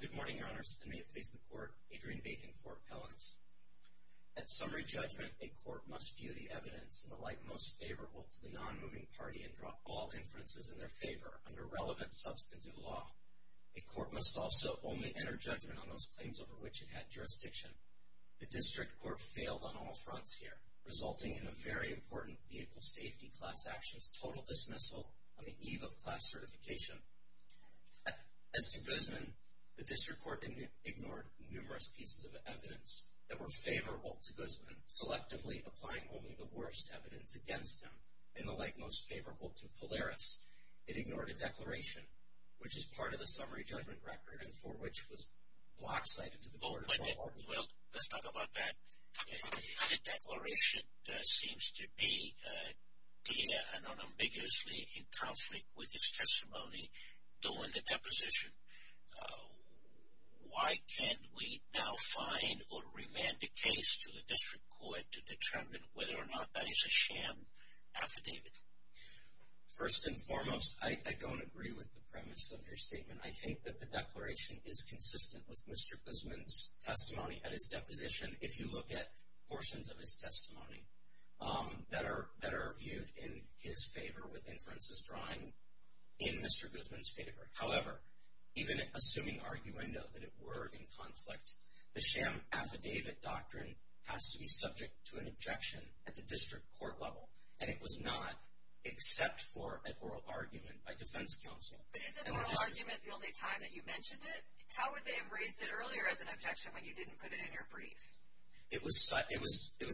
Good morning, Your Honors, and may it please the Court, Adrian Bacon, Court Appellants. At summary judgment, a court must view the evidence in the light most favorable to the non-moving party and draw all inferences in their favor under relevant substantive law. A court must also only enter judgment on those claims over which it had jurisdiction. The District Court failed on all fronts here, resulting in a very important vehicle safety class action, which was total dismissal on the eve of class certification. As to Guzman, the District Court ignored numerous pieces of evidence that were favorable to Guzman, selectively applying only the worst evidence against him, in the light most favorable to Polaris. It ignored a declaration, which is part of the summary judgment record, and for which was block cited to the board. Well, let's talk about that. The declaration seems to be unambiguously in conflict with his testimony during the deposition. Why can't we now find or remand the case to the District Court to determine whether or not that is a sham affidavit? First and foremost, I don't agree with the premise of your statement. I think that the declaration is consistent with Mr. Guzman's testimony at his deposition, if you look at portions of his testimony that are viewed in his favor with inferences drawing in Mr. Guzman's favor. However, even assuming arguendo that it were in conflict, the sham affidavit doctrine has to be subject to an objection at the District Court level, and it was not, except for a oral argument by defense counsel. But is an oral argument the only time that you mentioned it? How would they have raised it earlier as an objection when you didn't put it in your brief? It was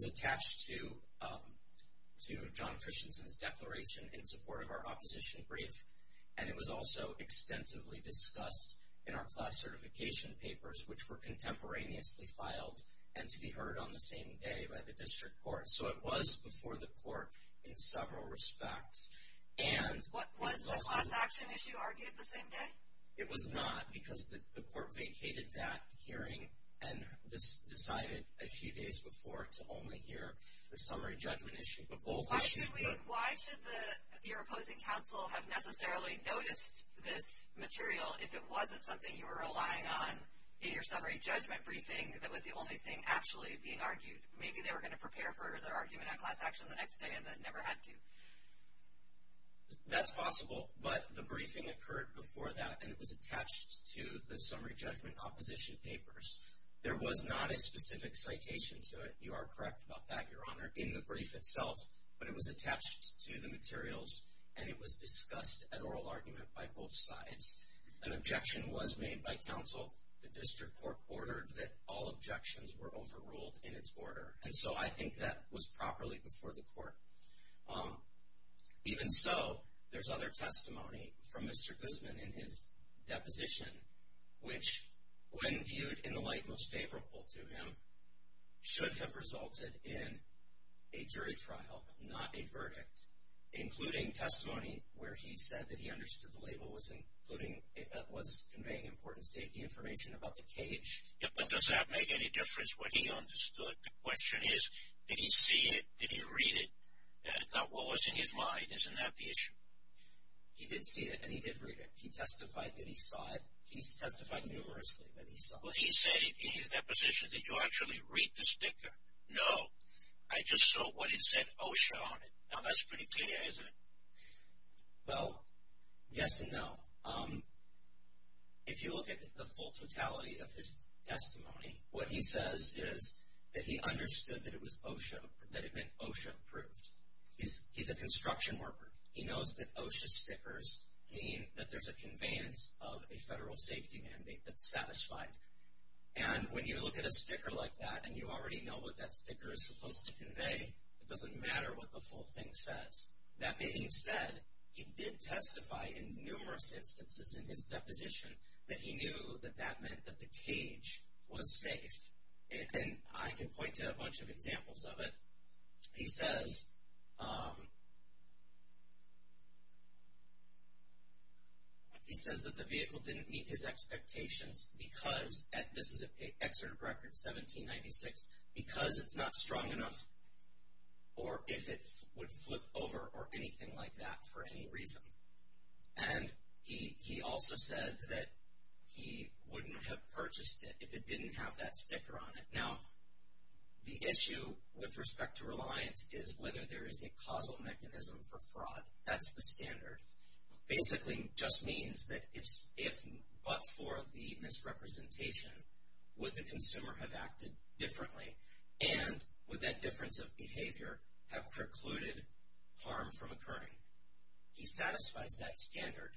attached to John Christensen's declaration in support of our opposition brief, and it was also extensively discussed in our class certification papers, which were contemporaneously filed and to be heard on the same day by the District Court. So it was before the court in several respects. Was the class action issue argued the same day? It was not because the court vacated that hearing and decided a few days before to only hear the summary judgment issue. Why should your opposing counsel have necessarily noticed this material if it wasn't something you were relying on in your summary judgment briefing that was the only thing actually being argued? Maybe they were going to prepare for their argument on class action the next day, and they never had to. That's possible, but the briefing occurred before that, and it was attached to the summary judgment opposition papers. There was not a specific citation to it. You are correct about that, Your Honor, in the brief itself, but it was attached to the materials, and it was discussed at oral argument by both sides. An objection was made by counsel. The District Court ordered that all objections were overruled in its order, and so I think that was properly before the court. Even so, there's other testimony from Mr. Guzman in his deposition, which, when viewed in the light most favorable to him, should have resulted in a jury trial, not a verdict, including testimony where he said that he understood that the label was conveying important safety information about the cage. But does that make any difference what he understood? The question is, did he see it? Did he read it? Now, what was in his mind? Isn't that the issue? He did see it, and he did read it. He testified that he saw it. He testified numerously that he saw it. Well, he said in his deposition, did you actually read the sticker? No. I just saw what it said OSHA on it. Now, that's pretty clear, isn't it? Well, yes and no. If you look at the full totality of his testimony, what he says is that he understood that it meant OSHA approved. He's a construction worker. He knows that OSHA stickers mean that there's a conveyance of a federal safety mandate that's satisfied. And when you look at a sticker like that and you already know what that sticker is supposed to convey, it doesn't matter what the full thing says. That being said, he did testify in numerous instances in his deposition that he knew that that meant that the cage was safe. And I can point to a bunch of examples of it. He says that the vehicle didn't meet his expectations because, this is an excerpt of record 1796, because it's not strong enough or if it would flip over or anything like that for any reason. And he also said that he wouldn't have purchased it if it didn't have that sticker on it. Now, the issue with respect to reliance is whether there is a causal mechanism for fraud. That's the standard. Basically just means that if but for the misrepresentation, would the consumer have acted differently? And would that difference of behavior have precluded harm from occurring? He satisfies that standard,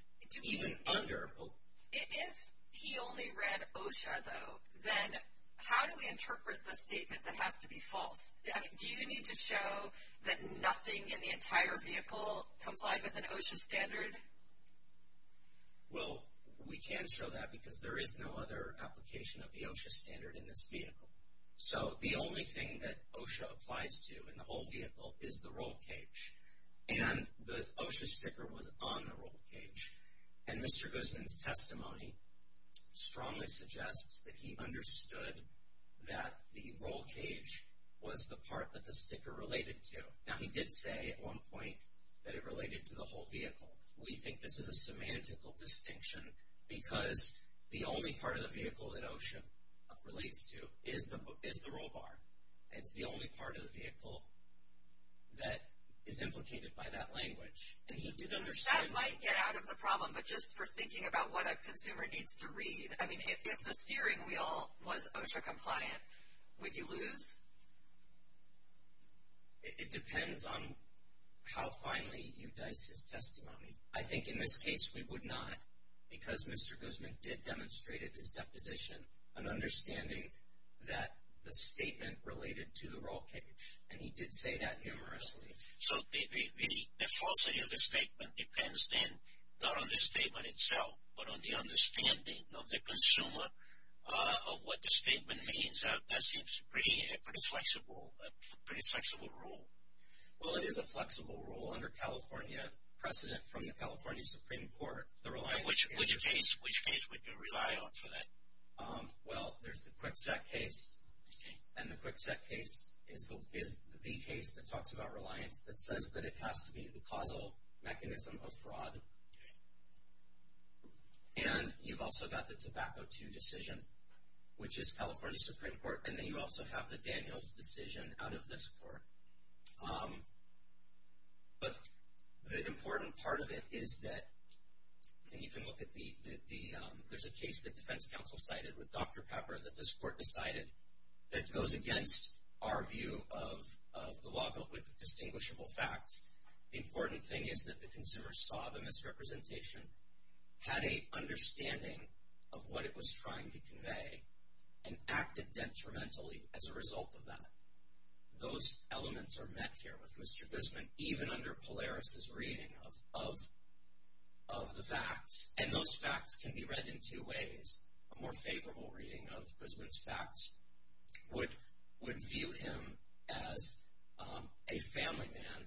even under OSHA. If he only read OSHA though, then how do we interpret the statement that has to be false? Do you need to show that nothing in the entire vehicle complied with an OSHA standard? Well, we can't show that because there is no other application of the OSHA standard in this vehicle. So the only thing that OSHA applies to in the whole vehicle is the roll cage. And the OSHA sticker was on the roll cage. And Mr. Guzman's testimony strongly suggests that he understood that the roll cage was the part that the sticker related to. Now, he did say at one point that it related to the whole vehicle. We think this is a semantical distinction because the only part of the vehicle that OSHA relates to is the roll bar. It's the only part of the vehicle that is implicated by that language. And he did understand that. That might get out of the problem, but just for thinking about what a consumer needs to read. I mean, if the steering wheel was OSHA compliant, would you lose? It depends on how finely you dice his testimony. I think in this case we would not because Mr. Guzman did demonstrate at his deposition an understanding that the statement related to the roll cage. And he did say that numerously. So the falsity of the statement depends then not on the statement itself, but on the understanding of the consumer of what the statement means. So that seems a pretty flexible rule. Well, it is a flexible rule under California precedent from the California Supreme Court. Which case would you rely on for that? Well, there's the Kwikset case, and the Kwikset case is the case that talks about reliance that says that it has to be the causal mechanism of fraud. Okay. And you've also got the Tobacco II decision, which is California Supreme Court. And then you also have the Daniels decision out of this court. But the important part of it is that, and you can look at the, there's a case that defense counsel cited with Dr. Pepper that this court decided that goes against our view of the law built with distinguishable facts. The important thing is that the consumer saw the misrepresentation, had an understanding of what it was trying to convey, and acted detrimentally as a result of that. Those elements are met here with Mr. Guzman, even under Polaris' reading of the facts. And those facts can be read in two ways. A more favorable reading of Guzman's facts would view him as a family man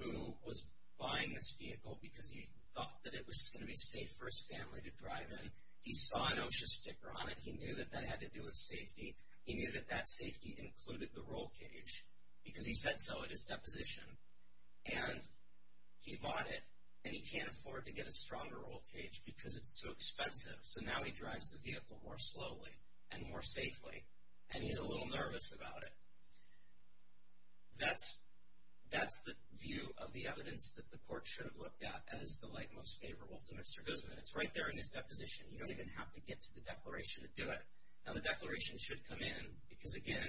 who was buying this vehicle because he thought that it was going to be safe for his family to drive in. He saw an OSHA sticker on it. He knew that that had to do with safety. He knew that that safety included the roll cage because he said so at his deposition. And he bought it, and he can't afford to get a stronger roll cage because it's too expensive. So now he drives the vehicle more slowly and more safely, and he's a little nervous about it. That's the view of the evidence that the court should have looked at as the light most favorable to Mr. Guzman. It's right there in his deposition. You don't even have to get to the declaration to do it. Now, the declaration should come in because, again,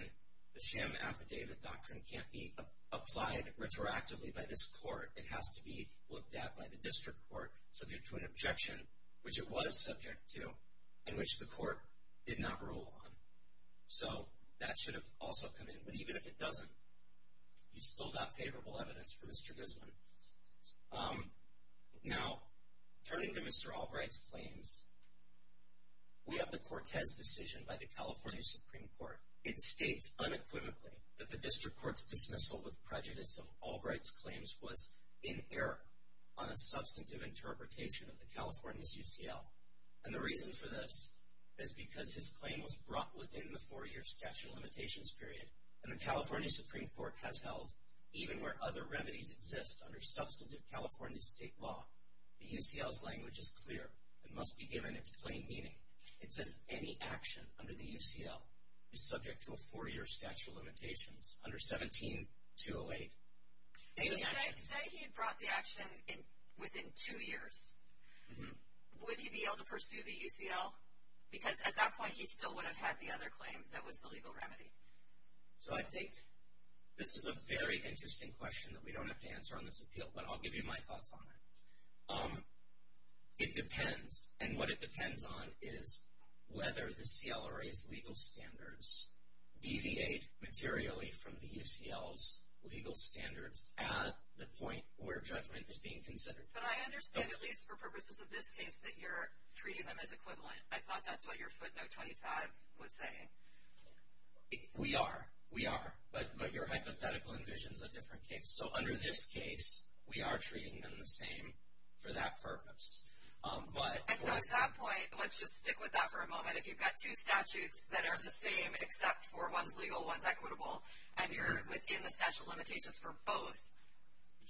the sham affidavit doctrine can't be applied retroactively by this court. It has to be looked at by the district court subject to an objection, which it was subject to, and which the court did not rule on. So that should have also come in. But even if it doesn't, you've still got favorable evidence for Mr. Guzman. Now, turning to Mr. Albright's claims, we have the Cortez decision by the California Supreme Court. It states unequivocally that the district court's dismissal with prejudice of Albright's claims was in error on a substantive interpretation of the California's UCL. And the reason for this is because his claim was brought within the four-year statute of limitations period, and the California Supreme Court has held even where other remedies exist under substantive California state law, the UCL's language is clear. It must be given its plain meaning. It says any action under the UCL is subject to a four-year statute of limitations under 17-208. Any action. Say he brought the action within two years. Would he be able to pursue the UCL? Because at that point, he still would have had the other claim that was the legal remedy. So I think this is a very interesting question that we don't have to answer on this appeal, but I'll give you my thoughts on it. It depends. And what it depends on is whether the CLRA's legal standards deviate materially from the UCL's legal standards at the point where judgment is being considered. But I understand, at least for purposes of this case, that you're treating them as equivalent. I thought that's what your footnote 25 was saying. We are. We are. But your hypothetical envisions a different case. So under this case, we are treating them the same for that purpose. And so at that point, let's just stick with that for a moment. If you've got two statutes that are the same except for one's legal, one's equitable, and you're within the statute of limitations for both,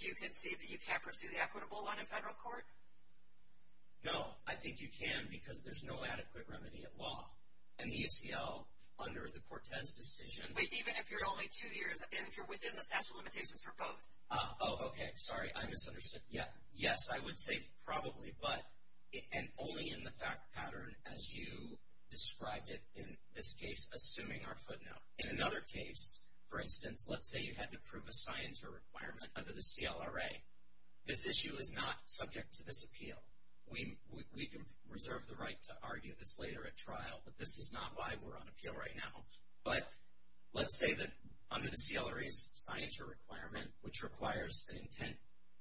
do you concede that you can't pursue the equitable one in federal court? No. I think you can because there's no adequate remedy at law. And the UCL, under the Cortez decision. Wait, even if you're only two years and if you're within the statute of limitations for both? Oh, okay. Sorry, I misunderstood. Yes, I would say probably, but only in the fact pattern as you described it in this case, assuming our footnote. In another case, for instance, let's say you had to prove a science or requirement under the CLRA. This issue is not subject to this appeal. We can reserve the right to argue this later at trial, but this is not why we're on appeal right now. But let's say that under the CLRA's science or requirement, which requires an intent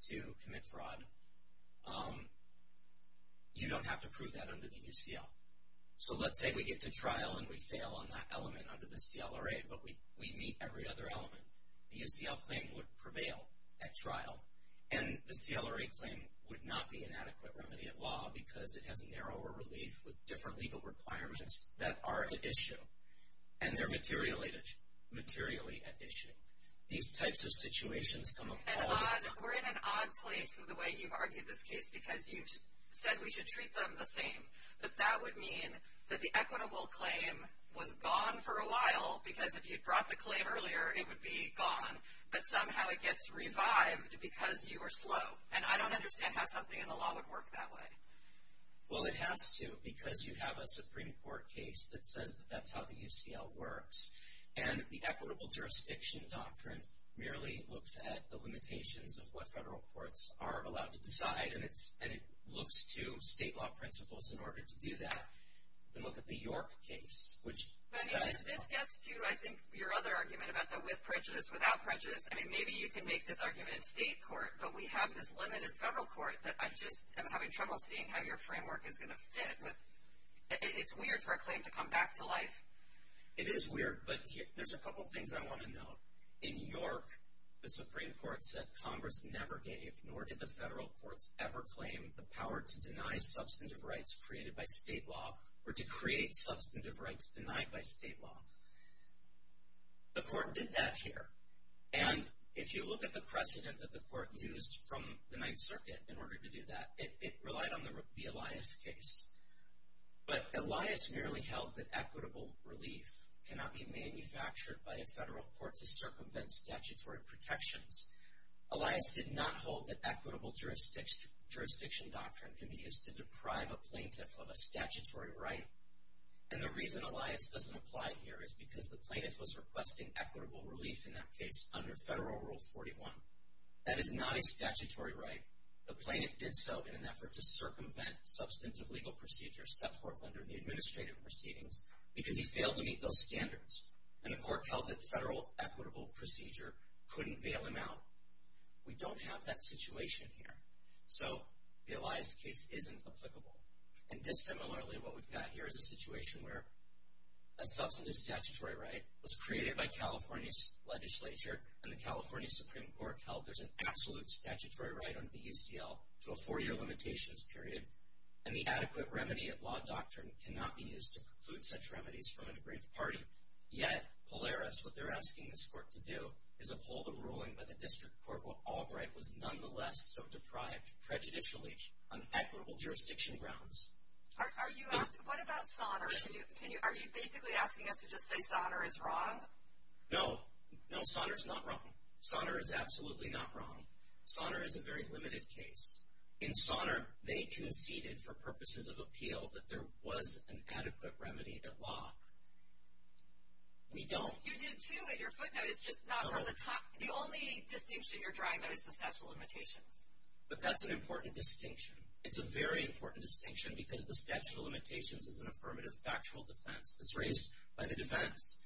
to commit fraud, you don't have to prove that under the UCL. So let's say we get to trial and we fail on that element under the CLRA, but we meet every other element. The UCL claim would prevail at trial, and the CLRA claim would not be an adequate remedy at law because it has a narrower relief with different legal requirements that are at issue, and they're materially at issue. These types of situations come up all the time. We're in an odd place with the way you've argued this case because you've said we should treat them the same. But that would mean that the equitable claim was gone for a while because if you'd brought the claim earlier, it would be gone, but somehow it gets revived because you were slow. And I don't understand how something in the law would work that way. Well, it has to because you have a Supreme Court case that says that that's how the UCL works, and the equitable jurisdiction doctrine merely looks at the limitations of what federal courts are allowed to decide, and it looks to state law principles in order to do that. Then look at the York case, which says- But this gets to, I think, your other argument about the with prejudice, without prejudice. I mean, maybe you can make this argument in state court, but we have this limit in federal court that I just am having trouble seeing how your framework is going to fit. It's weird for a claim to come back to life. It is weird, but there's a couple things I want to note. In York, the Supreme Court said Congress never gave, nor did the federal courts ever claim, the power to deny substantive rights created by state law or to create substantive rights denied by state law. The court did that here. And if you look at the precedent that the court used from the Ninth Circuit in order to do that, it relied on the Elias case. But Elias merely held that equitable relief cannot be manufactured by a federal court to circumvent statutory protections. Elias did not hold that equitable jurisdiction doctrine can be used to deprive a plaintiff of a statutory right. And the reason Elias doesn't apply here is because the plaintiff was requesting equitable relief in that case under Federal Rule 41. That is not a statutory right. The plaintiff did so in an effort to circumvent substantive legal procedures set forth under the administrative proceedings because he failed to meet those standards. And the court held that federal equitable procedure couldn't bail him out. We don't have that situation here. So the Elias case isn't applicable. And dissimilarly, what we've got here is a situation where a substantive statutory right was created by California's legislature, and the California Supreme Court held there's an absolute statutory right under the UCL to a four-year limitations period, and the adequate remedy of law doctrine cannot be used to preclude such remedies from an aggrieved party. Yet, Polaris, what they're asking this court to do is uphold a ruling by the District Court where Albright was nonetheless sort of deprived prejudicially on equitable jurisdiction grounds. Are you asking, what about Sonner? Are you basically asking us to just say Sonner is wrong? No. No, Sonner's not wrong. Sonner is absolutely not wrong. Sonner is a very limited case. In Sonner, they conceded for purposes of appeal that there was an adequate remedy of law. We don't. You did too in your footnotes, just not from the top. The only distinction you're drawing by is the statute of limitations. But that's an important distinction. It's a very important distinction because the statute of limitations is an affirmative factual defense that's raised by the defense.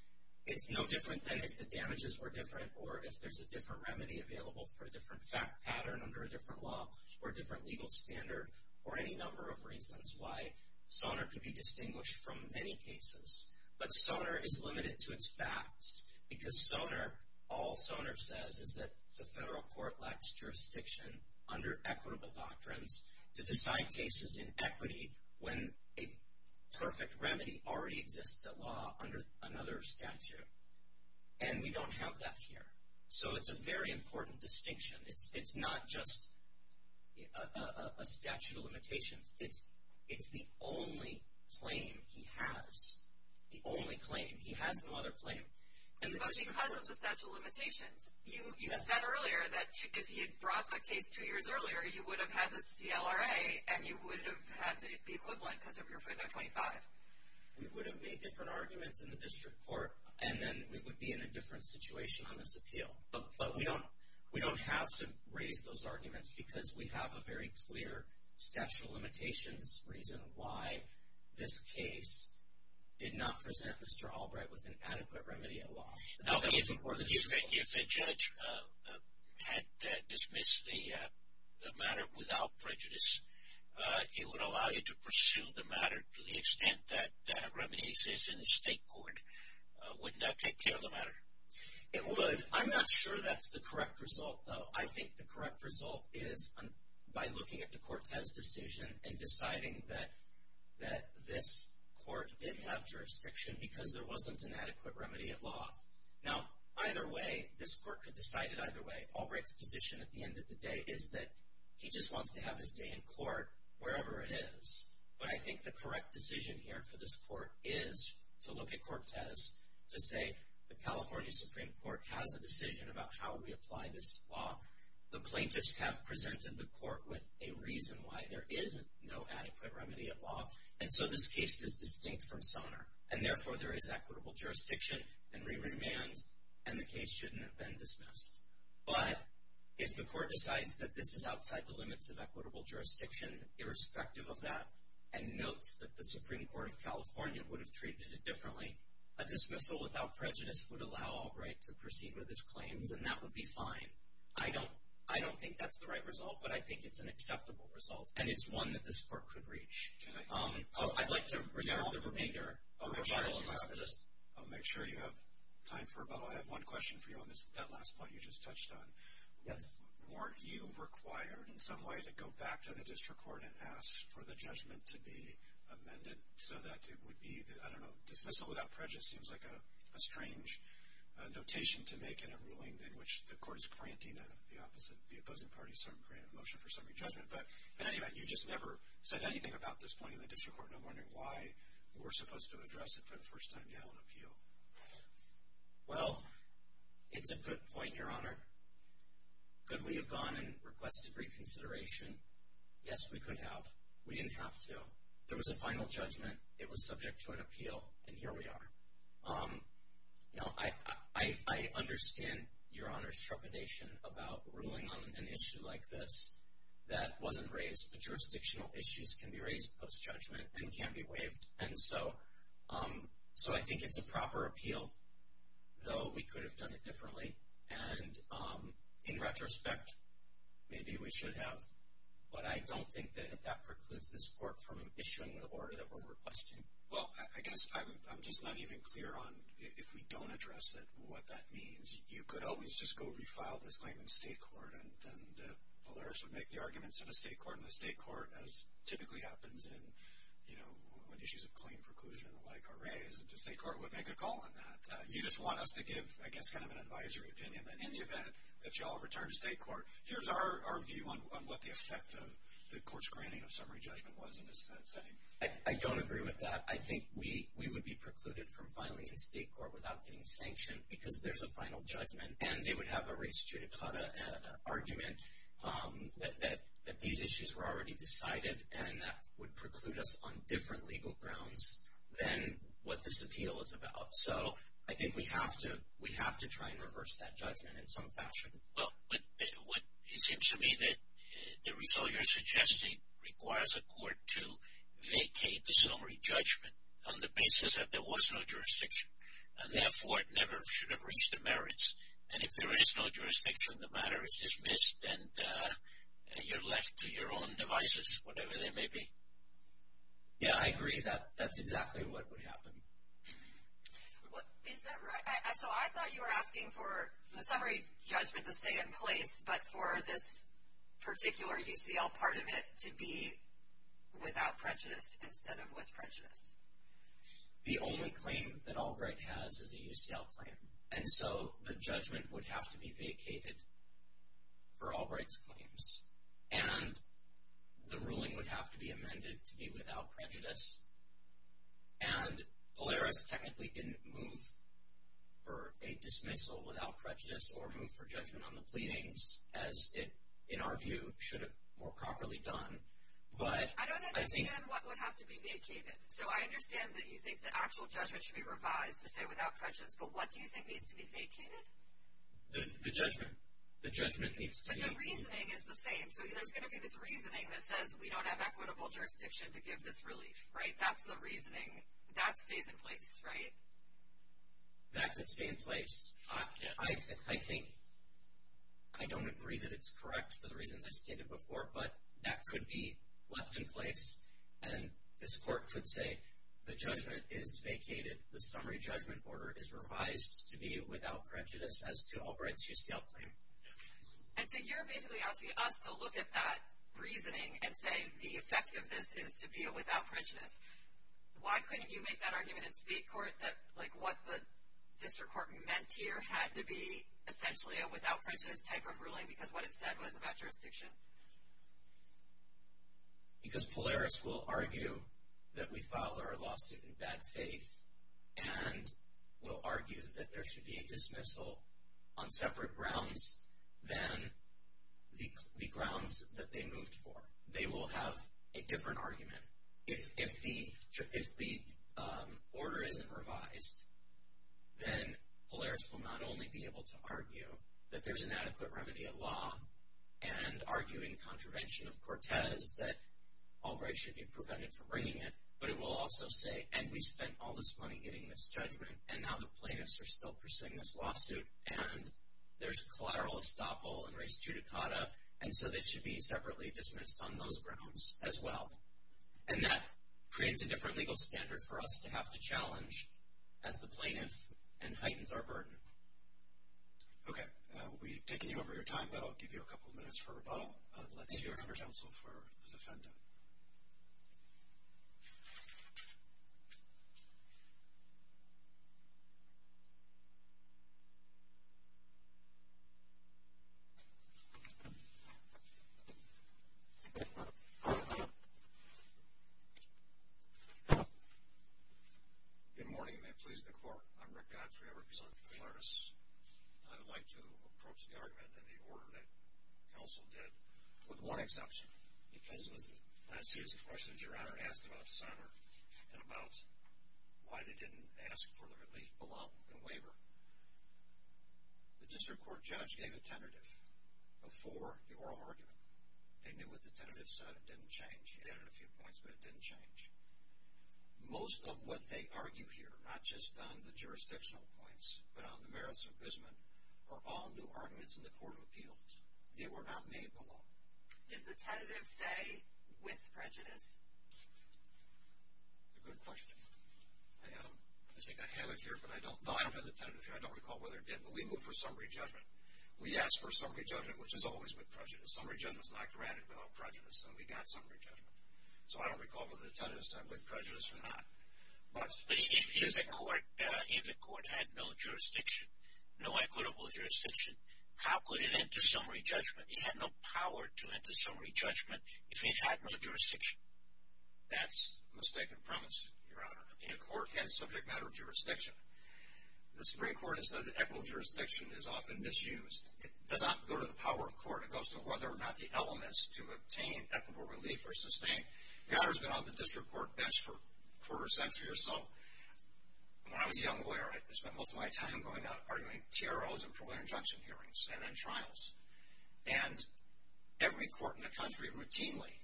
It's no different than if the damages were different or if there's a different remedy available for a different fact pattern under a different law or a different legal standard or any number of reasons why Sonner could be distinguished from many cases. But Sonner is limited to its facts because Sonner, all Sonner says is that the federal court lacks jurisdiction under equitable doctrines to decide cases in equity when a perfect remedy already exists at law under another statute. And we don't have that here. So it's a very important distinction. It's not just a statute of limitations. It's the only claim he has, the only claim. He has no other claim. But because of the statute of limitations, you said earlier that if he had brought the case two years earlier, you would have had the CLRA and you would have had the equivalent because of your footnote 25. We would have made different arguments in the district court, and then we would be in a different situation on this appeal. But we don't have to raise those arguments because we have a very clear statute of limitations reason why this case did not present Mr. Albright with an adequate remedy at law. If a judge had dismissed the matter without prejudice, it would allow you to pursue the matter to the extent that remedy exists in the state court. Wouldn't that take care of the matter? It would. I'm not sure that's the correct result, though. I think the correct result is by looking at the Cortez decision and deciding that this court did have jurisdiction because there wasn't an adequate remedy at law. Now, either way, this court could decide it either way. Albright's position at the end of the day is that he just wants to have his day in court wherever it is. But I think the correct decision here for this court is to look at Cortez, to say the California Supreme Court has a decision about how we apply this law. The plaintiffs have presented the court with a reason why there is no adequate remedy at law, and so this case is distinct from Sonner. And therefore, there is equitable jurisdiction, and we remand, and the case shouldn't have been dismissed. But if the court decides that this is outside the limits of equitable jurisdiction, irrespective of that, and notes that the Supreme Court of California would have treated it differently, a dismissal without prejudice would allow Albright to proceed with his claims, and that would be fine. I don't think that's the right result, but I think it's an acceptable result, and it's one that this court could reach. So I'd like to reserve the remainder. I'll make sure you have time for rebuttal. I have one question for you on that last point you just touched on. Yes. Weren't you required in some way to go back to the district court and ask for the judgment to be amended so that it would be the, I don't know, dismissal without prejudice seems like a strange notation to make in a ruling in which the court is granting the opposite, the opposing party a motion for summary judgment. But in any event, you just never said anything about this point in the district court, and I'm wondering why we're supposed to address it for the first time now in appeal. Well, it's a good point, Your Honor. Could we have gone and requested reconsideration? Yes, we could have. We didn't have to. There was a final judgment. It was subject to an appeal, and here we are. You know, I understand Your Honor's trepidation about ruling on an issue like this that wasn't raised, but jurisdictional issues can be raised post-judgment and can't be waived. And so I think it's a proper appeal, though we could have done it differently. And in retrospect, maybe we should have, but I don't think that that precludes this court from issuing the order that we're requesting. Well, I guess I'm just not even clear on, if we don't address it, what that means. You could always just go refile this claim in state court, and then the lawyers would make the arguments in the state court, as typically happens in, you know, when issues of claim preclusion and the like are raised, and the state court would make a call on that. You just want us to give, I guess, kind of an advisory opinion that in the event that you all return to state court, here's our view on what the effect of the court's granting of summary judgment was in this setting. I don't agree with that. I think we would be precluded from filing in state court without getting sanctioned because there's a final judgment, and they would have a res judicata argument that these issues were already decided, and that would preclude us on different legal grounds than what this appeal is about. So I think we have to try and reverse that judgment in some fashion. Well, it seems to me that the result you're suggesting requires a court to vacate the summary judgment on the basis that there was no jurisdiction, and therefore it never should have reached the merits. And if there is no jurisdiction, the matter is dismissed, and you're left to your own devices, whatever they may be. Yeah, I agree. That's exactly what would happen. Is that right? So I thought you were asking for the summary judgment to stay in place, but for this particular UCL part of it to be without prejudice instead of with prejudice. The only claim that Albright has is a UCL claim, and so the judgment would have to be vacated for Albright's claims, and the ruling would have to be amended to be without prejudice. And Polaris technically didn't move for a dismissal without prejudice or move for judgment on the pleadings as it, in our view, should have more properly done. I don't understand what would have to be vacated. So I understand that you think the actual judgment should be revised to say without prejudice, but what do you think needs to be vacated? The judgment needs to be. But the reasoning is the same. So there's going to be this reasoning that says we don't have equitable jurisdiction to give this relief, right? That's the reasoning. That stays in place, right? That could stay in place. I think I don't agree that it's correct for the reasons I stated before, but that could be left in place, and this court could say the judgment is vacated, the summary judgment order is revised to be without prejudice as to Albright's UCL claim. And so you're basically asking us to look at that reasoning and say the effect of this is to be a without prejudice. Why couldn't you make that argument in state court that, like, what the district court meant here had to be essentially a without prejudice type of ruling because what it said was about jurisdiction? Because Polaris will argue that we filed our lawsuit in bad faith and will argue that there should be a dismissal on separate grounds than the grounds that they moved for. They will have a different argument. If the order isn't revised, then Polaris will not only be able to argue that there's an adequate remedy of law and argue in contravention of Cortez that Albright should be prevented from bringing it, but it will also say, and we spent all this money getting this judgment, and now the plaintiffs are still pursuing this lawsuit, and there's collateral estoppel and res judicata, and so they should be separately dismissed on those grounds as well. And that creates a different legal standard for us to have to challenge as the plaintiff and heightens our burden. Okay. We've taken you over your time, but I'll give you a couple minutes for rebuttal. Let's hear from counsel for the defendant. Good morning and may it please the court. I'm Rick Godfrey. I represent Polaris. I would like to approach the argument in the order that counsel did, with one exception, because it was a non-serious question, Your Honor. It asked about Sonner and about why they didn't ask for the relief below the waiver. The district court judge gave a tentative before the oral argument. They knew what the tentative said. It didn't change. He added a few points, but it didn't change. Most of what they argue here, not just on the jurisdictional points, but on the merits of Bisman, are all new arguments in the court of appeals. They were not made below. Did the tentative say with prejudice? Good question. I think I have it here, but I don't know. I don't have the tentative here. I don't recall whether it did, but we moved for summary judgment. We asked for summary judgment, which is always with prejudice. Summary judgment is not granted without prejudice, so we got summary judgment. So I don't recall whether the tentative said with prejudice or not. But if the court had no jurisdiction, no equitable jurisdiction, how could it enter summary judgment? It had no power to enter summary judgment if it had no jurisdiction. That's a mistaken premise, Your Honor. The court had a subject matter of jurisdiction. The Supreme Court has said that equitable jurisdiction is often misused. It does not go to the power of court. It goes to whether or not the elements to obtain equitable relief are sustained. Your Honor has been on the district court bench for a quarter century or so. When I was a young lawyer, I spent most of my time going out arguing TROs and preliminary injunction hearings and then trials. And every court in the country routinely,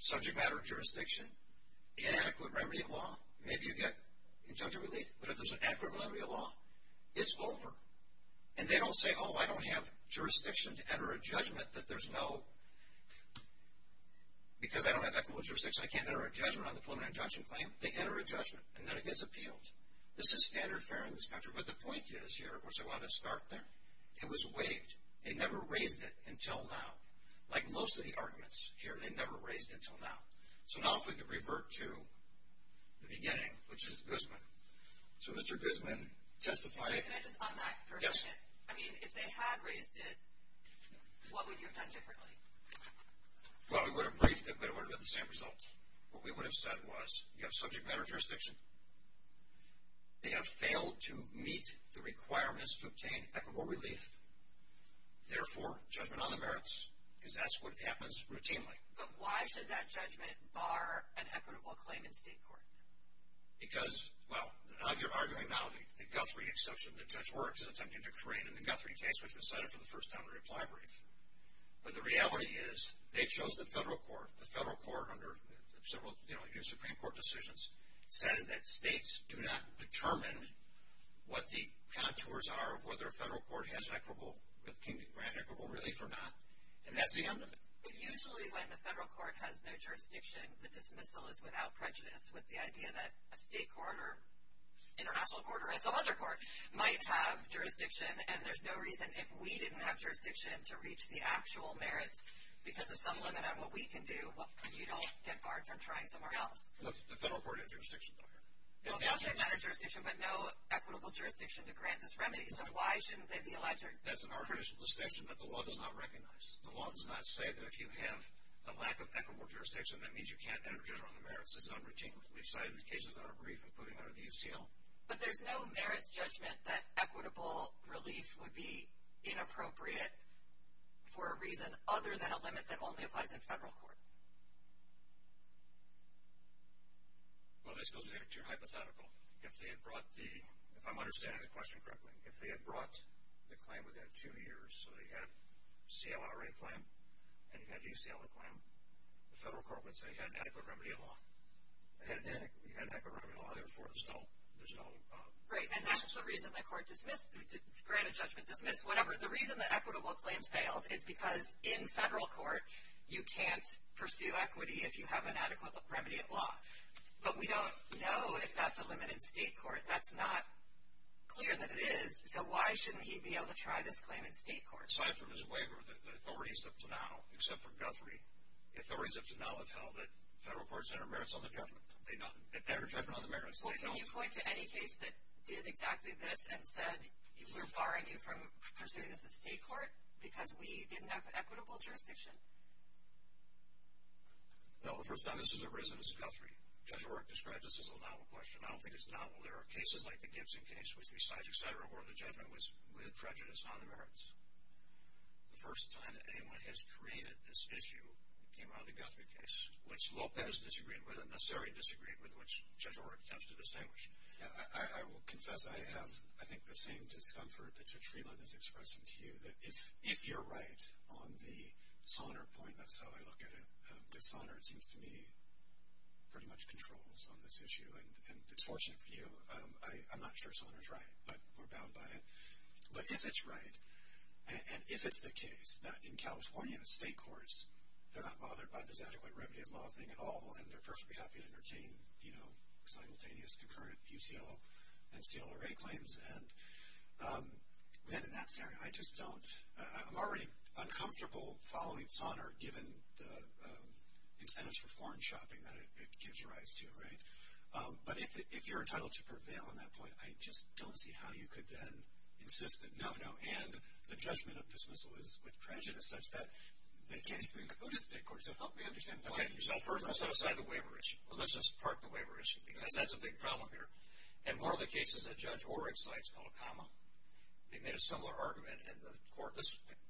subject matter of jurisdiction, inadequate remedy of law, maybe you get injunctive relief, but if there's an inadequate remedy of law, it's over. And they don't say, oh, I don't have jurisdiction to enter a judgment that there's no, because I don't have equitable jurisdiction, I can't enter a judgment on the preliminary injunction claim. They enter a judgment, and then it gets appealed. This is standard fare in this country. But the point is here, which I want to start there, it was waived. They never raised it until now. Like most of the arguments here, they never raised it until now. So now if we could revert to the beginning, which is Guzman. So Mr. Guzman testified. Can I just unback for a second? Yes. I mean, if they had raised it, what would you have done differently? Well, we would have briefed it, but it would have been the same result. What we would have said was, you have subject matter of jurisdiction. They have failed to meet the requirements to obtain equitable relief. Therefore, judgment on the merits, because that's what happens routinely. But why should that judgment bar an equitable claim in state court? Because, well, you're arguing now the Guthrie exception. The judge works in attempting to create in the Guthrie case, which was cited for the first time in a reply brief. But the reality is they chose the federal court. The federal court, under several Supreme Court decisions, says that states do not determine what the contours are of whether a federal court has equitable relief or not, and that's the end of it. But usually when the federal court has no jurisdiction, the dismissal is without prejudice with the idea that a state court or international court or some other court might have jurisdiction, and there's no reason if we didn't have jurisdiction to reach the actual merits because of some limit on what we can do, you don't get barred from trying somewhere else. The federal court had jurisdiction, though. Well, subject matter of jurisdiction, but no equitable jurisdiction to grant this remedy. So why shouldn't they be allowed to? That's an artificial distinction that the law does not recognize. The law does not say that if you have a lack of equitable jurisdiction, that means you can't enter jurisdiction on the merits. This is unroutinely cited in cases that are brief, including under the UCL. But there's no merits judgment that equitable relief would be inappropriate for a reason other than a limit that only applies in federal court. Well, this goes back to your hypothetical. If they had brought the – if I'm understanding the question correctly, if they had brought the claim within two years, so they had a CLRA claim and you had a UCLA claim, the federal court would say you had an adequate remedy in law. You had an adequate remedy in law, therefore there's no – Right, and that's the reason the court dismissed – granted judgment, dismissed, whatever. The reason the equitable claim failed is because in federal court, you can't pursue equity if you have an adequate remedy in law. But we don't know if that's a limit in state court. That's not clear that it is. So why shouldn't he be able to try this claim in state court? Well, aside from his waiver, the authorities up to now, except for Guthrie, the authorities up to now have held that federal courts enter merits on the judgment. They not – enter judgment on the merits. Well, can you point to any case that did exactly this and said we're barring you from pursuing this in state court because we didn't have equitable jurisdiction? No, the first time this has arisen is Guthrie. Judge O'Rourke describes this as a novel question. I don't think it's novel. There are cases like the Gibson case, which besides etc., the judgment was with prejudice on the merits. The first time anyone has created this issue came out of the Guthrie case, which Lopez disagreed with and Nasseri disagreed with, which Judge O'Rourke attempts to distinguish. I will confess I have, I think, the same discomfort that Judge Freeland is expressing to you, that if you're right on the Sonner point, that's how I look at it, because Sonner, it seems to me, pretty much controls on this issue, and it's fortunate for you. I'm not sure Sonner's right, but we're bound by it. But if it's right, and if it's the case, that in California state courts, they're not bothered by this adequate remedy of law thing at all, and they're perfectly happy to entertain, you know, simultaneous, concurrent UCO and CLRA claims. And then in that scenario, I just don't. I'm already uncomfortable following Sonner, given the incentives for foreign shopping that it gives rise to, right? But if you're entitled to prevail on that point, I just don't see how you could then insist that no, no, and the judgment of dismissal is with prejudice such that they can't even go to the state courts. So help me understand why. Okay, so first let's set aside the waiver issue. Well, let's just park the waiver issue, because that's a big problem here. And one of the cases that Judge O'Rourke cites, called Acama, they made a similar argument, and the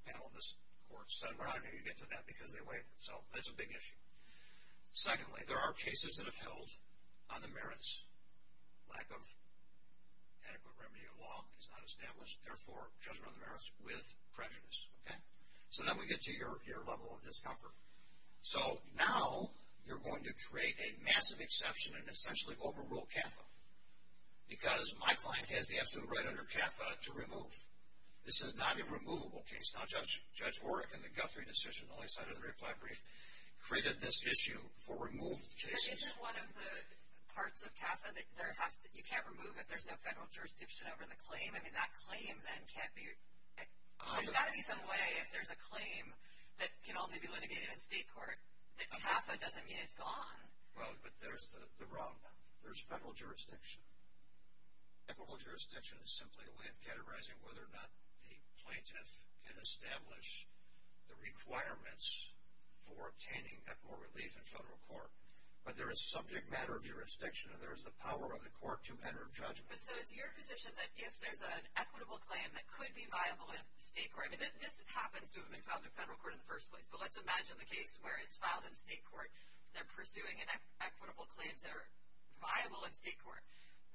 panel in this court said, well, how do you get to that, because they waive it. So that's a big issue. Secondly, there are cases that have held on the merits. Lack of adequate remedy of law is not established. Therefore, judgment on the merits with prejudice, okay? So then we get to your level of discomfort. So now you're going to create a massive exception and essentially overrule CAFA, because my client has the absolute right under CAFA to remove. This is not a removable case. Now, Judge O'Rourke, in the Guthrie decision, the last side of the reply brief, created this issue for removed cases. But isn't one of the parts of CAFA that you can't remove if there's no federal jurisdiction over the claim? I mean, that claim then can't be... There's got to be some way, if there's a claim that can only be litigated in state court, that CAFA doesn't mean it's gone. Well, but there's the problem. There's federal jurisdiction. Equitable jurisdiction is simply a way of categorizing whether or not the plaintiff can establish the requirements for obtaining equitable relief in federal court. But there is subject matter jurisdiction, and there is the power of the court to enter judgment. But so it's your position that if there's an equitable claim that could be viable in state court... I mean, this happens to have been filed in federal court in the first place, but let's imagine the case where it's filed in state court. They're pursuing equitable claims that are viable in state court.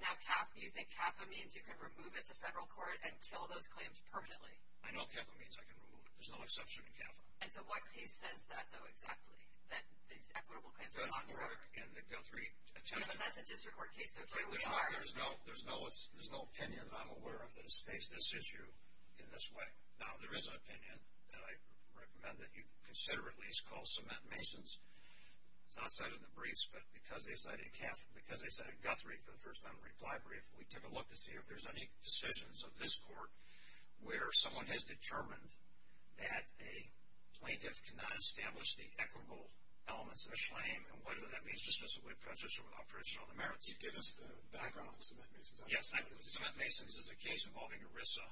Now, do you think CAFA means you can remove it to federal court and kill those claims permanently? I know CAFA means I can remove it. There's no exception in CAFA. And so what case says that, though, exactly? That these equitable claims are not... That doesn't work in the Guthrie attempt. Yeah, but that's a district court case, so here we are. There's no opinion that I'm aware of that has faced this issue in this way. Now, there is an opinion that I recommend that you consider, at least, called Cement Masons. It's not cited in the briefs, but because they cited Guthrie for the first time in the reply brief, we took a look to see if there's any decisions of this court where someone has determined that a plaintiff cannot establish the equitable elements of a claim, and whether that means dismissively prejudicial without traditional demerits. You gave us the background of Cement Masons. Yes, Cement Masons is a case involving ERISA,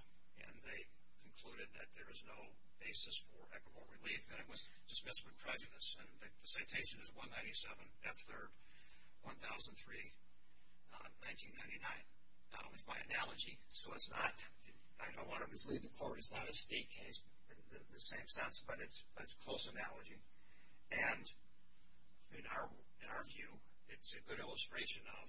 and they concluded that there is no basis for equitable relief, and it was dismissed with prejudice. And the citation is 197 F. 3rd, 1003, 1999. It's my analogy, so it's not... I don't want to mislead the court. It's not a state case in the same sense, but it's a close analogy. And in our view, it's a good illustration of,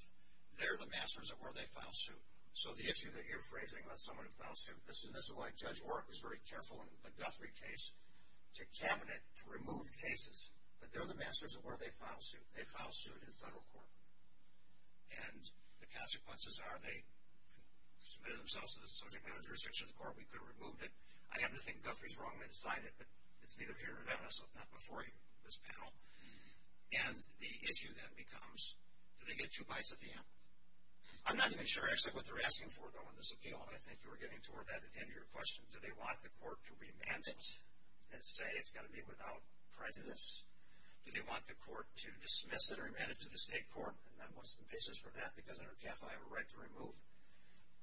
they're the masters of where they file suit. So the issue that you're phrasing about someone who filed suit, and this is why Judge Orrick was very careful in the Guthrie case to cabinet to remove cases, that they're the masters of where they file suit. They file suit in federal court. And the consequences are they submitted themselves to the subject matter jurisdiction of the court. We could have removed it. I happen to think Guthrie's wrong when he signed it, but it's neither here nor then, so it's not before you, this panel. And the issue then becomes, do they get two bites at the end? I'm not even sure, actually, what they're asking for, though, in this appeal, and I think you were getting toward that at the end of your question. Do they want the court to remand it and say it's got to be without prejudice? Do they want the court to dismiss it or remand it to the state court, and then what's the basis for that because under CAFA I have a right to remove?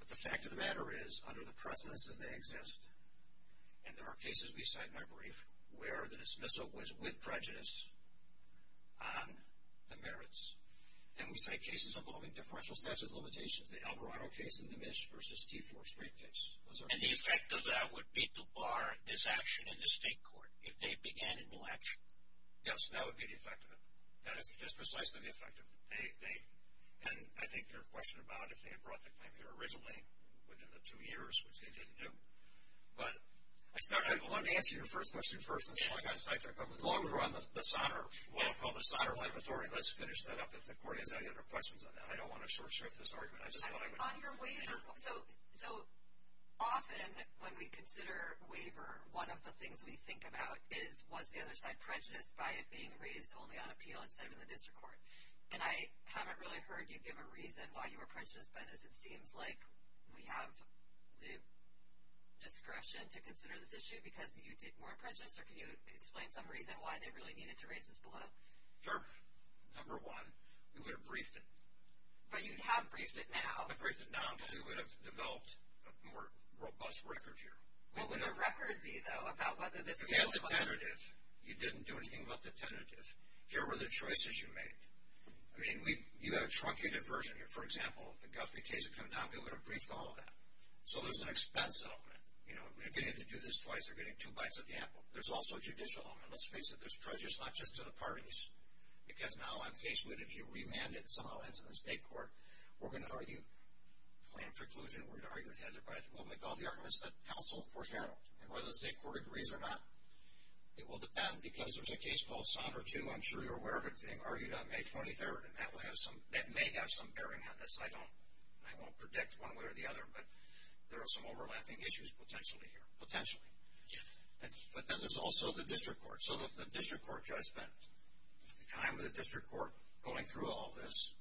But the fact of the matter is, under the precedence as they exist, and there are cases we cite in my brief where the dismissal was with prejudice on the merits, and we cite cases involving differential statute limitations, the Alvarado case and the Misch v. T4 street case. And the effect of that would be to bar this action in the state court if they began a new action? Yes, that would be the effect of it. That is precisely the effect of it. And I think there's a question about if they had brought the claim here originally within the two years, which they didn't do. But I wanted to answer your first question first and see what kind of side track that was. As long as we're on what I call the sonar laboratory, let's finish that up. If the court has any other questions on that. I don't want to short-circuit this argument. On your waiver, so often when we consider waiver, one of the things we think about is was the other side prejudiced by it being raised only on appeal instead of in the district court. And I haven't really heard you give a reason why you were prejudiced by this. It seems like we have the discretion to consider this issue because you were prejudiced, or can you explain some reason why they really needed to raise this below? Sure. Number one, we would have briefed it. But you have briefed it now. We've briefed it now, but we would have developed a more robust record here. What would the record be, though, about whether this was justified? You didn't do anything about the tentative. Here were the choices you made. I mean, you have a truncated version here. For example, if the Guthrie case had come down, we would have briefed all of that. So there's an expense element. You know, they're getting to do this twice, they're getting two bites of the apple. There's also a judicial element. Let's face it, there's prejudice not just to the parties. Because now I'm faced with if you remanded some elements in the state court, we're going to argue planned preclusion, we're going to argue the hazard bias, and we'll make all the arguments that counsel foreshadowed. And whether the state court agrees or not, it will depend because there's a case called Sondra 2. I'm sure you're aware of it. It's being argued on May 23rd, and that may have some bearing on this. I won't predict one way or the other, but there are some overlapping issues potentially here. Potentially. But then there's also the district court. So the district court judge spent time with the district court going through all this,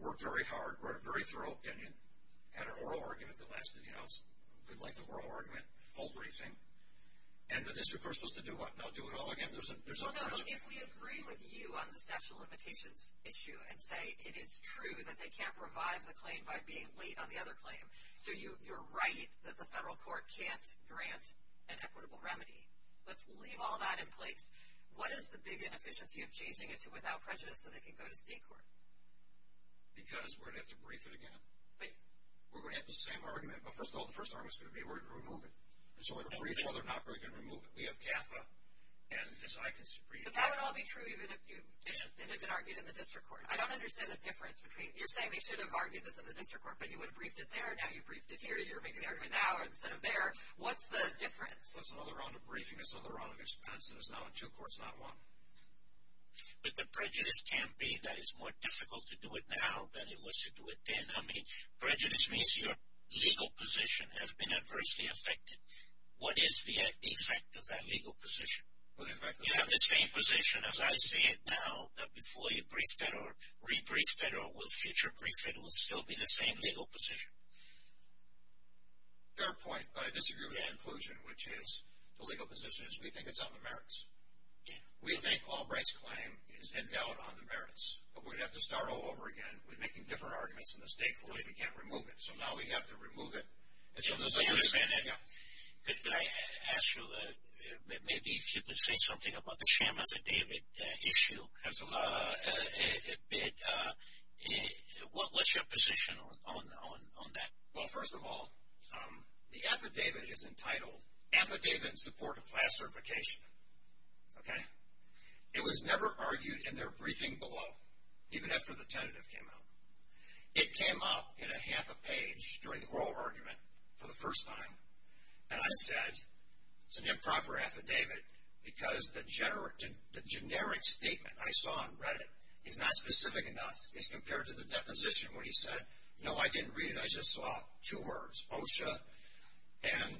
worked very hard, wrote a very thorough opinion, had an oral argument that lasted, you know, a good length of oral argument, full briefing. And the district court is supposed to do what? Now do it all again? There's no pressure. Well, no, but if we agree with you on the statute of limitations issue and say it is true that they can't revive the claim by being late on the other claim, so you're right that the federal court can't grant an equitable remedy. Let's leave all that in place. What is the big inefficiency of changing it to without prejudice so they can go to state court? Because we're going to have to brief it again. We're going to have the same argument. Well, first of all, the first argument is going to be we're going to remove it. And so we're going to brief it. Well, they're not going to remove it. We have CAFA. But that would all be true even if it had been argued in the district court. I don't understand the difference between you're saying they should have argued this in the district court, but you would have briefed it there, now you've briefed it here, you're making the argument now instead of there. What's the difference? Well, it's another round of briefing, it's another round of expense, and it's now in two courts, not one. But the prejudice can't be that it's more difficult to do it now than it was to do it then. I mean, prejudice means your legal position has been adversely affected. What is the effect of that legal position? You have the same position, as I see it now, that before you briefed it or re-briefed it or will future brief it, it will still be the same legal position. Your point, but I disagree with that inclusion, which is the legal position is we think it's on the merits. We think Albright's claim is invalid on the merits. But we'd have to start all over again with making different arguments in the state court if we can't remove it. So now we have to remove it. So as I understand it, did I ask you maybe if you could say something about the sham affidavit issue? Absolutely. What's your position on that? Well, first of all, the affidavit is entitled Affidavit in Support of Class Certification. Okay? It was never argued in their briefing below, even after the tentative came out. It came up in a half a page during the oral argument for the first time. And I said it's an improper affidavit because the generic statement I saw on Reddit is not specific enough. It's compared to the deposition where he said, no, I didn't read it. I just saw two words, OSHA and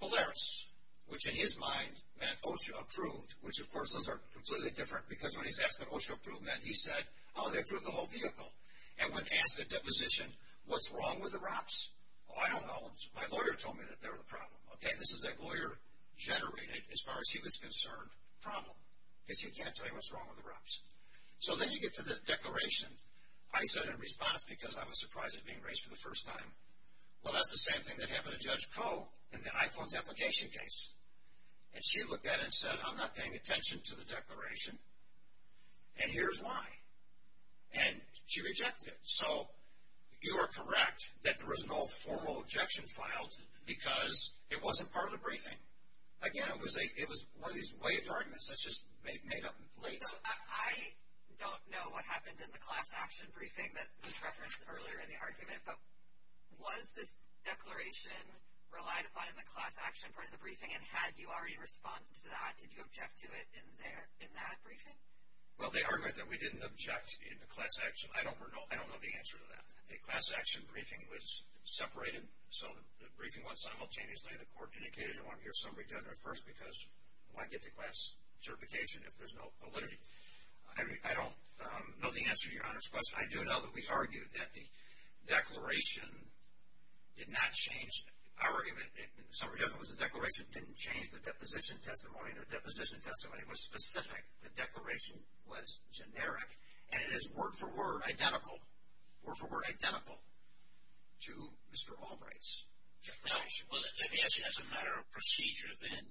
Polaris, which in his mind meant OSHA approved, which, of course, those are completely different. Because when he's asked what OSHA approved meant, he said, oh, they approved the whole vehicle. And when asked at deposition, what's wrong with the ROPS? Oh, I don't know. My lawyer told me that they were the problem. Okay? This is a lawyer-generated, as far as he was concerned, problem. Because he can't tell you what's wrong with the ROPS. So then you get to the declaration. I said in response, because I was surprised it was being raised for the first time, well, that's the same thing that happened to Judge Koh in the iPhones application case. And she looked at it and said, I'm not paying attention to the declaration, and here's why. And she rejected it. So you are correct that there was no formal objection filed because it wasn't part of the briefing. Again, it was one of these waived arguments that's just made up late. I don't know what happened in the class action briefing that was referenced earlier in the argument. But was this declaration relied upon in the class action part of the briefing? And had you already responded to that? Did you object to it in that briefing? Well, they argued that we didn't object in the class action. I don't know the answer to that. The class action briefing was separated. So the briefing was simultaneously. The court indicated, I want to hear summary judgment first because I want to get to class certification if there's no validity. I don't know the answer to Your Honor's question. I do know that we argued that the declaration did not change our argument. Summary judgment was the declaration didn't change the deposition testimony. The deposition testimony was specific. The declaration was generic. And it is word-for-word identical, word-for-word identical to Mr. Albright's declaration. Well, let me ask you, as a matter of procedure, then,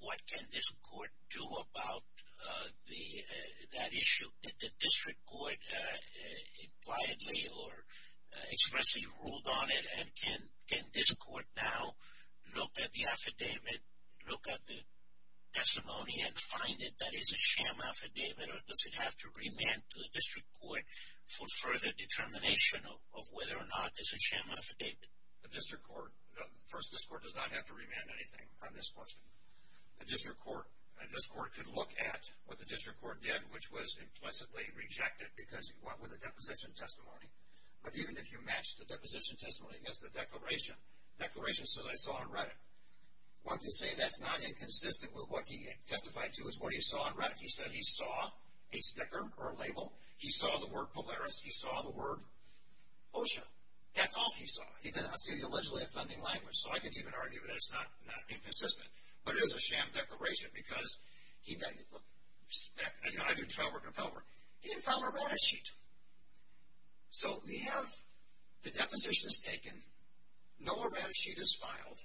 what can this court do about that issue? Did the district court impliedly or expressly ruled on it? And can this court now look at the affidavit, look at the testimony and find it that is a sham affidavit? Or does it have to remand to the district court for further determination of whether or not it's a sham affidavit? The district court, first, this court does not have to remand anything on this question. The district court, this court can look at what the district court did, which was implicitly rejected because it went with the deposition testimony. But even if you match the deposition testimony against the declaration, the declaration says, I saw on Reddit. One can say that's not inconsistent with what he testified to is what he saw on Reddit. He said he saw a sticker or a label. He saw the word Polaris. He saw the word OSHA. That's all he saw. He did not see the allegedly offending language. So I can even argue that it's not inconsistent. But it is a sham declaration because he then, look, and I do trial work in appellate work. He didn't file a Reddit sheet. So we have the deposition is taken. No Reddit sheet is filed.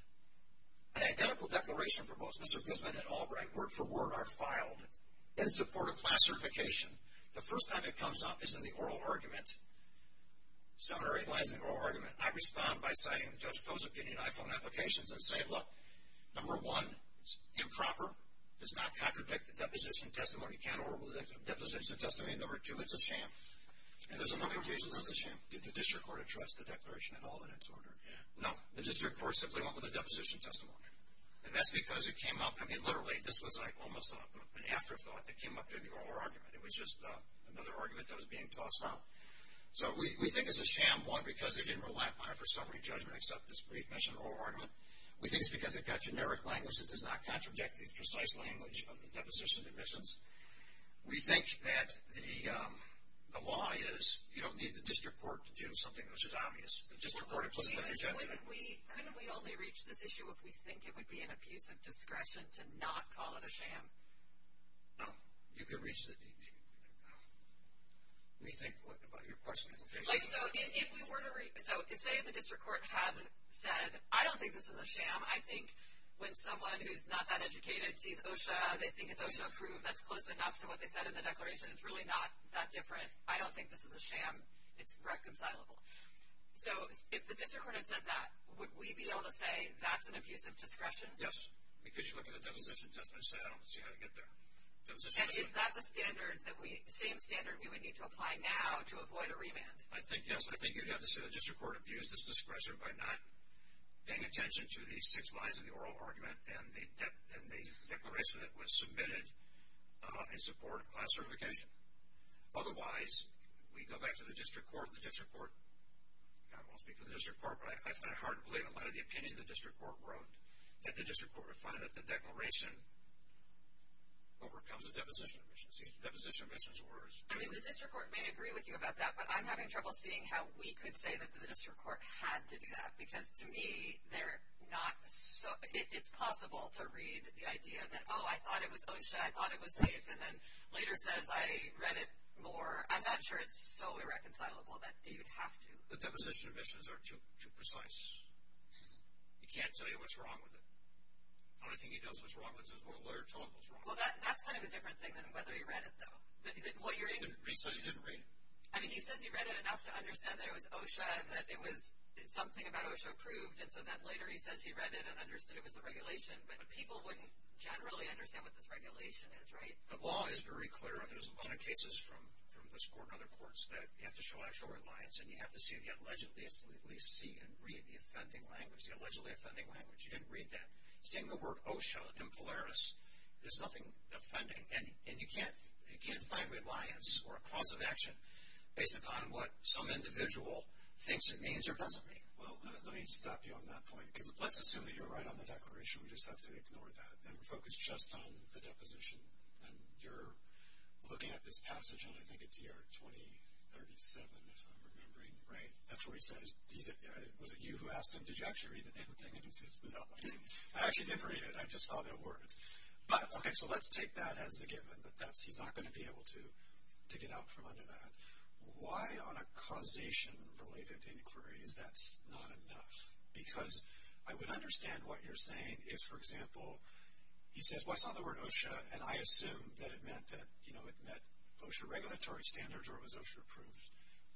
An identical declaration for both Mr. Grissman and Albright, word for word, are filed in support of class certification. The first time it comes up is in the oral argument. Seminary lies in the oral argument. I respond by citing Judge Koh's opinion. I phone applications and say, look, number one, it's improper. It does not contradict the deposition testimony count or the deposition testimony. Number two, it's a sham. And there's a number of cases it's a sham. Did the district court address the declaration at all in its order? No. The district court simply went with the deposition testimony. And that's because it came up, I mean, literally, this was like almost an afterthought that came up in the oral argument. It was just another argument that was being tossed out. So we think it's a sham, one, because it didn't relap on it for summary judgment except this brief mention of oral argument. We think it's because it got generic language that does not contradict the precise language of the deposition admissions. We think that the lie is you don't need the district court to do something which is obvious. The district court implicitly rejected it. Couldn't we only reach this issue if we think it would be an abuse of discretion to not call it a sham? No. You could reach it. Let me think about your question. So say the district court had said, I don't think this is a sham. I think when someone who's not that educated sees OSHA, they think it's OSHA approved. That's close enough to what they said in the declaration. It's really not that different. I don't think this is a sham. It's reconcilable. So if the district court had said that, would we be able to say that's an abuse of discretion? Yes, because you look at the deposition testimony and say, I don't see how to get there. And is that the same standard we would need to apply now to avoid a remand? I think yes. I think you'd have to say the district court abused its discretion by not paying attention to the six lies in the oral argument and the declaration that was submitted in support of class certification. Otherwise, we'd go back to the district court. The district court, I won't speak for the district court, but I find it hard to believe a lot of the opinion the district court wrote, that the district court would find that the declaration overcomes the deposition admissions. The deposition admissions were as good. I mean, the district court may agree with you about that, but I'm having trouble seeing how we could say that the district court had to do that. Because to me, it's possible to read the idea that, oh, I thought it was OSHA, I thought it was safe, and then later says I read it more. I'm not sure it's so irreconcilable that you'd have to. The deposition admissions are too precise. You can't tell you what's wrong with it. The only thing he knows what's wrong with it is what a lawyer told him was wrong. Well, that's kind of a different thing than whether he read it, though. He says he didn't read it. I mean, he says he read it enough to understand that it was OSHA, that it was something about OSHA approved, and so then later he says he read it and understood it was a regulation. But people wouldn't generally understand what this regulation is, right? The law is very clear, and there's a lot of cases from this court and other courts that you have to show actual reliance, and you have to see if you allegedly see and read the offending language, the allegedly offending language. You didn't read that. Seeing the word OSHA in Polaris, there's nothing offending. And you can't find reliance or a cause of action based upon what some individual thinks it means or doesn't mean. Well, let me stop you on that point, because let's assume that you're right on the declaration. We just have to ignore that and focus just on the deposition. And you're looking at this passage on, I think, a DR 2037, if I'm remembering right. That's where he says, was it you who asked him, did you actually read the name of the thing? I actually didn't read it. I just saw the words. Okay, so let's take that as a given, that he's not going to be able to get out from under that. Why on a causation-related inquiry is that not enough? Because I would understand what you're saying if, for example, he says, well, I saw the word OSHA, and I assume that it meant OSHA regulatory standards or it was OSHA approved.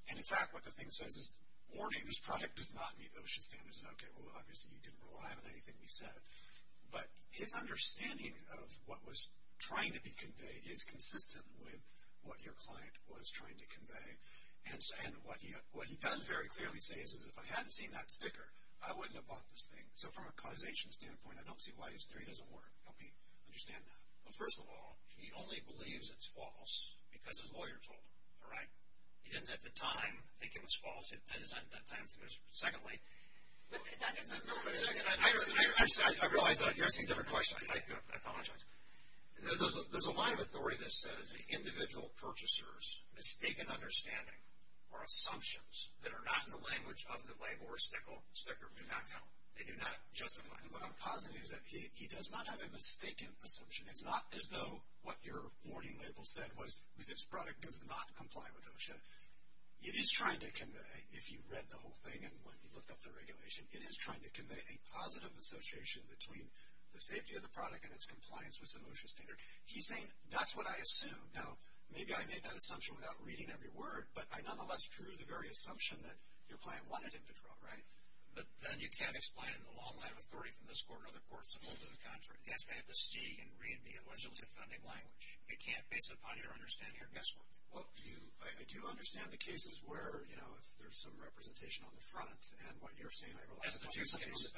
And, in fact, what the thing says is, warning, this product does not meet OSHA standards. And, okay, well, obviously you didn't rely on anything he said. But his understanding of what was trying to be conveyed is consistent with what your client was trying to convey. And what he does very clearly say is, if I hadn't seen that sticker, I wouldn't have bought this thing. So from a causation standpoint, I don't see why he's there. It doesn't work. Help me understand that. Well, first of all, he only believes it's false because his lawyer told him. All right? He didn't, at the time, think it was false. At that time, it was. Secondly, I realize you're asking a different question. I apologize. There's a line of authority that says, individual purchasers' mistaken understanding or assumptions that are not in the language of the label or sticker do not count. They do not justify. And what I'm positing is that he does not have a mistaken assumption. It's not as though what your warning label said was, this product does not comply with OSHA. It is trying to convey, if you read the whole thing and when you looked up the regulation, it is trying to convey a positive association between the safety of the product and its compliance with some OSHA standard. He's saying, that's what I assumed. Now, maybe I made that assumption without reading every word, but I nonetheless drew the very assumption that your client wanted him to draw. Right? But then you can't explain the long line of authority from this court and other courts that hold to the contrary. That's why you have to see and read the allegedly offending language. You can't base it upon your understanding or guesswork. Well, I do understand the cases where, you know, if there's some representation on the front and what you're saying, I realize. That's the two cases.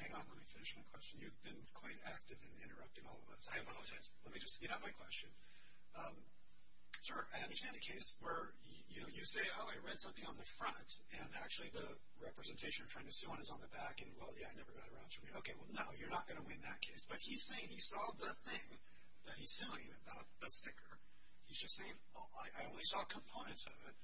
Hang on. Let me finish my question. You've been quite active in interrupting all of us. I apologize. Let me just speed up my question. Sir, I understand the case where, you know, you say, wow, I read something on the front, and actually the representation you're trying to sue on is on the back, and, well, yeah, I never got around to it. Okay, well, no, you're not going to win that case. But he's saying he saw the thing that he's suing about the sticker. He's just saying, oh, I only saw components of it.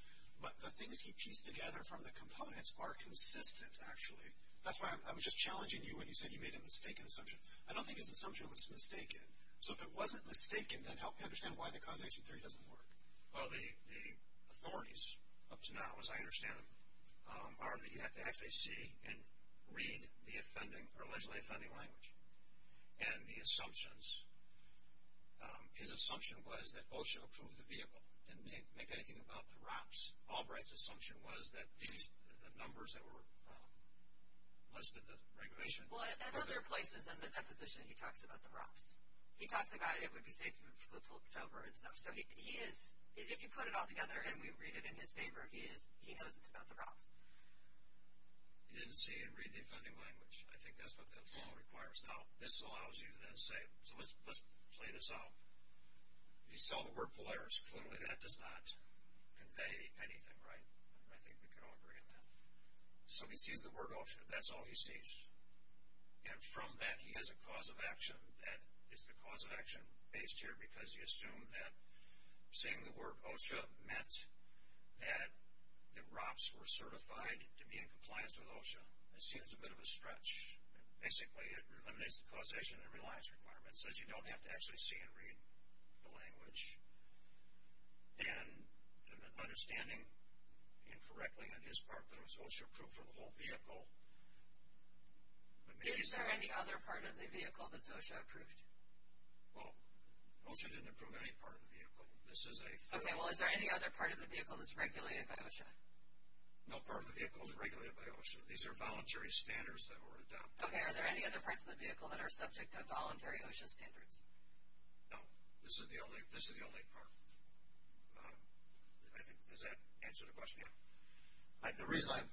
But the things he pieced together from the components are consistent, actually. That's why I was just challenging you when you said you made a mistaken assumption. I don't think his assumption was mistaken. So if it wasn't mistaken, then help me understand why the causation theory doesn't work. Well, the authorities up to now, as I understand them, are that you have to actually see and read the allegedly offending language. And the assumptions, his assumption was that OSHA approved the vehicle, didn't make anything about the ROPs. Albright's assumption was that the numbers that were listed, the regulation. Well, in other places in the deposition, he talks about the ROPs. He talks about it would be safe for October and stuff. So he is, if you put it all together and we read it in his favor, he knows it's about the ROPs. He didn't see and read the offending language. I think that's what the law requires. Now, this allows you to then say, so let's play this out. He saw the word Polaris. Clearly, that does not convey anything, right? I think we can all agree on that. So he sees the word OSHA. That's all he sees. And from that, he has a cause of action that is the cause of action based here because he assumed that seeing the word OSHA meant that the ROPs were certified to be in compliance with OSHA. It seems a bit of a stretch. Basically, it eliminates the causation and reliance requirement. It says you don't have to actually see and read the language. And understanding incorrectly on his part that it was OSHA approved for the whole vehicle. Is there any other part of the vehicle that's OSHA approved? Well, OSHA didn't approve any part of the vehicle. Okay, well, is there any other part of the vehicle that's regulated by OSHA? No part of the vehicle is regulated by OSHA. These are voluntary standards that were adopted. Okay, are there any other parts of the vehicle that are subject to voluntary OSHA standards? No. This is the only part. Does that answer the question? Yeah. The reason I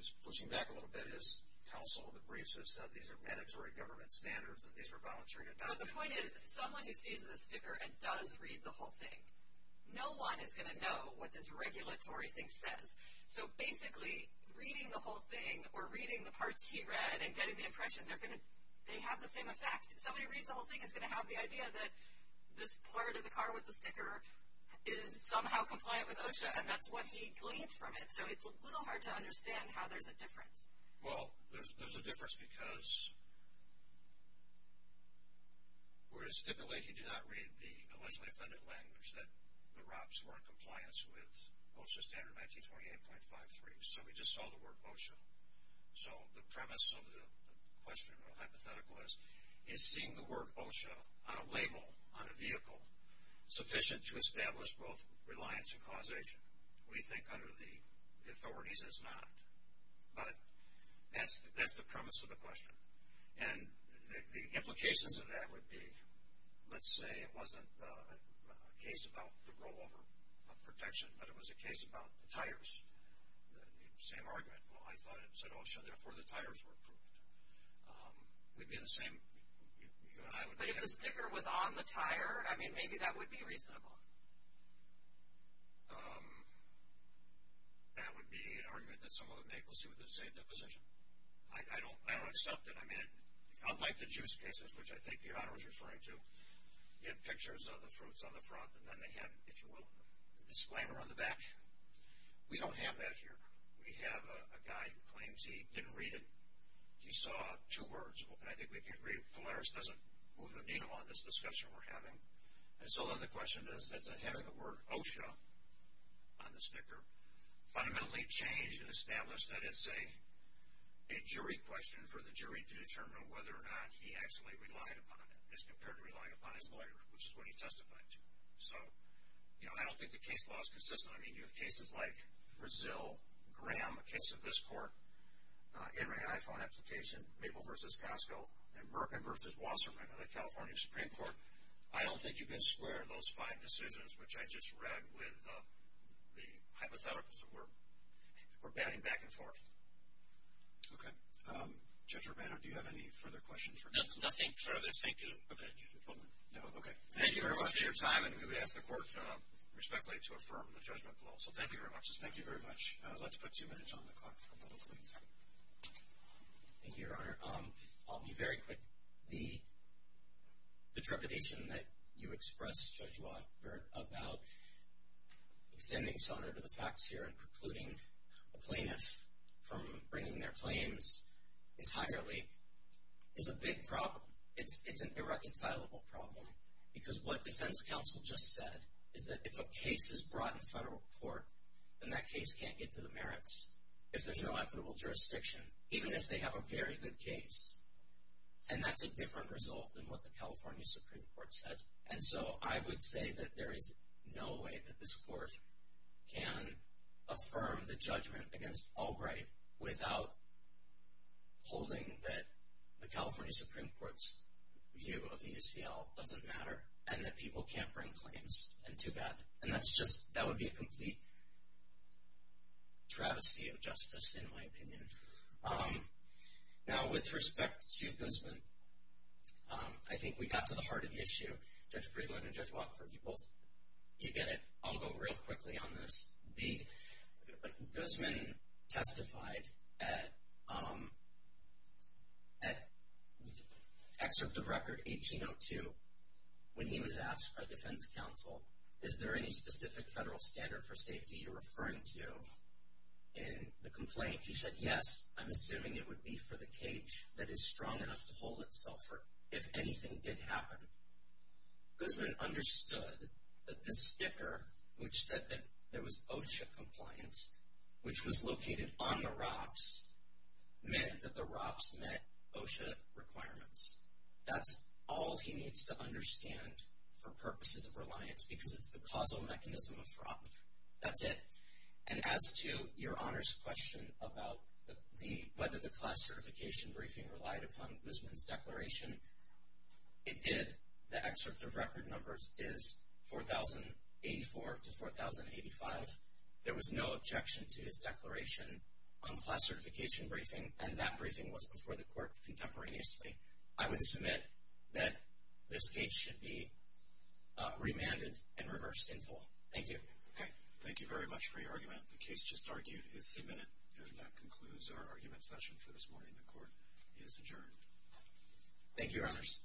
was pushing back a little bit is counsel of the briefs have said these are mandatory government standards and these were voluntary to adopt. But the point is, someone who sees the sticker and does read the whole thing, no one is going to know what this regulatory thing says. So, basically, reading the whole thing or reading the parts he read and getting the impression, they have the same effect. Somebody reads the whole thing is going to have the idea that this part of the car with the sticker is somehow compliant with OSHA, and that's what he gleaned from it. So, it's a little hard to understand how there's a difference. Well, there's a difference because we're stipulating do not read the allegedly offended language that the ROPS were in compliance with OSHA standard 1928.53. So, we just saw the word OSHA. So, the premise of the question or hypothetical is, is seeing the word OSHA on a label on a vehicle sufficient to establish both reliance and causation? We think under the authorities it's not. But that's the premise of the question. And the implications of that would be, let's say it wasn't a case about the rollover of protection, but it was a case about the tires, the same argument. Well, I thought it said OSHA, therefore the tires were approved. It would be the same. But if the sticker was on the tire, I mean, maybe that would be reasonable. That would be an argument that someone would make. Let's see what they say at that position. I don't accept it. I mean, unlike the juice cases, which I think the honor was referring to, you had pictures of the fruits on the front, and then they had, if you will, a disclaimer on the back. We don't have that here. We have a guy who claims he didn't read it. He saw two words open. I think we can agree Polaris doesn't move a needle on this discussion we're having. And so then the question is that having the word OSHA on the sticker fundamentally changed and established that it's a jury question for the jury to determine whether or not he actually relied upon it, as compared to relying upon his lawyer, which is what he testified to. So, you know, I don't think the case law is consistent. I mean, you have cases like Brazil, Graham, a case of this court, in an iPhone application, Mabel v. Costco, and Merkin v. Wasserman of the California Supreme Court. I don't think you can square those five decisions, which I just read, with the hypotheticals that we're batting back and forth. Okay. Judge Urbano, do you have any further questions? No, nothing further. Thank you. Okay. Thank you very much for your time, and we would ask the court respectfully to affirm the judgment below. So thank you very much. Thank you very much. Let's put two minutes on the clock for a moment, please. Thank you, Your Honor. I'll be very quick. The trepidation that you expressed, Judge Watt, about extending some of the facts here and precluding a plaintiff from bringing their claims entirely is a big problem. It's an irreconcilable problem, because what defense counsel just said is that if a case is brought in federal court, then that case can't get to the merits if there's no equitable jurisdiction, even if they have a very good case. And that's a different result than what the California Supreme Court said. And so I would say that there is no way that this court can affirm the judgment against Albright without holding that the California Supreme Court's view of the UCL doesn't matter and that people can't bring claims, and too bad. And that would be a complete travesty of justice, in my opinion. Now, with respect to Guzman, I think we got to the heart of the issue. Judge Friedland and Judge Watt, if you both get it, I'll go real quickly on this. Guzman testified at Excerpt of Record 1802 when he was asked by defense counsel, is there any specific federal standard for safety you're referring to in the complaint? He said, yes, I'm assuming it would be for the cage that is strong enough to hold itself if anything did happen. Guzman understood that this sticker, which said that there was OSHA compliance, which was located on the rocks, meant that the rocks met OSHA requirements. That's all he needs to understand for purposes of reliance because it's the causal mechanism of fraud. That's it. And as to your honors question about whether the class certification briefing relied upon Guzman's declaration, it did. The excerpt of record numbers is 4084 to 4085. There was no objection to his declaration on the class certification briefing, and that briefing was before the court contemporaneously. I would submit that this case should be remanded and reversed in full. Thank you. Okay. Thank you very much for your argument. The case just argued is submitted, and that concludes our argument session for this morning. The court is adjourned. Thank you, your honors.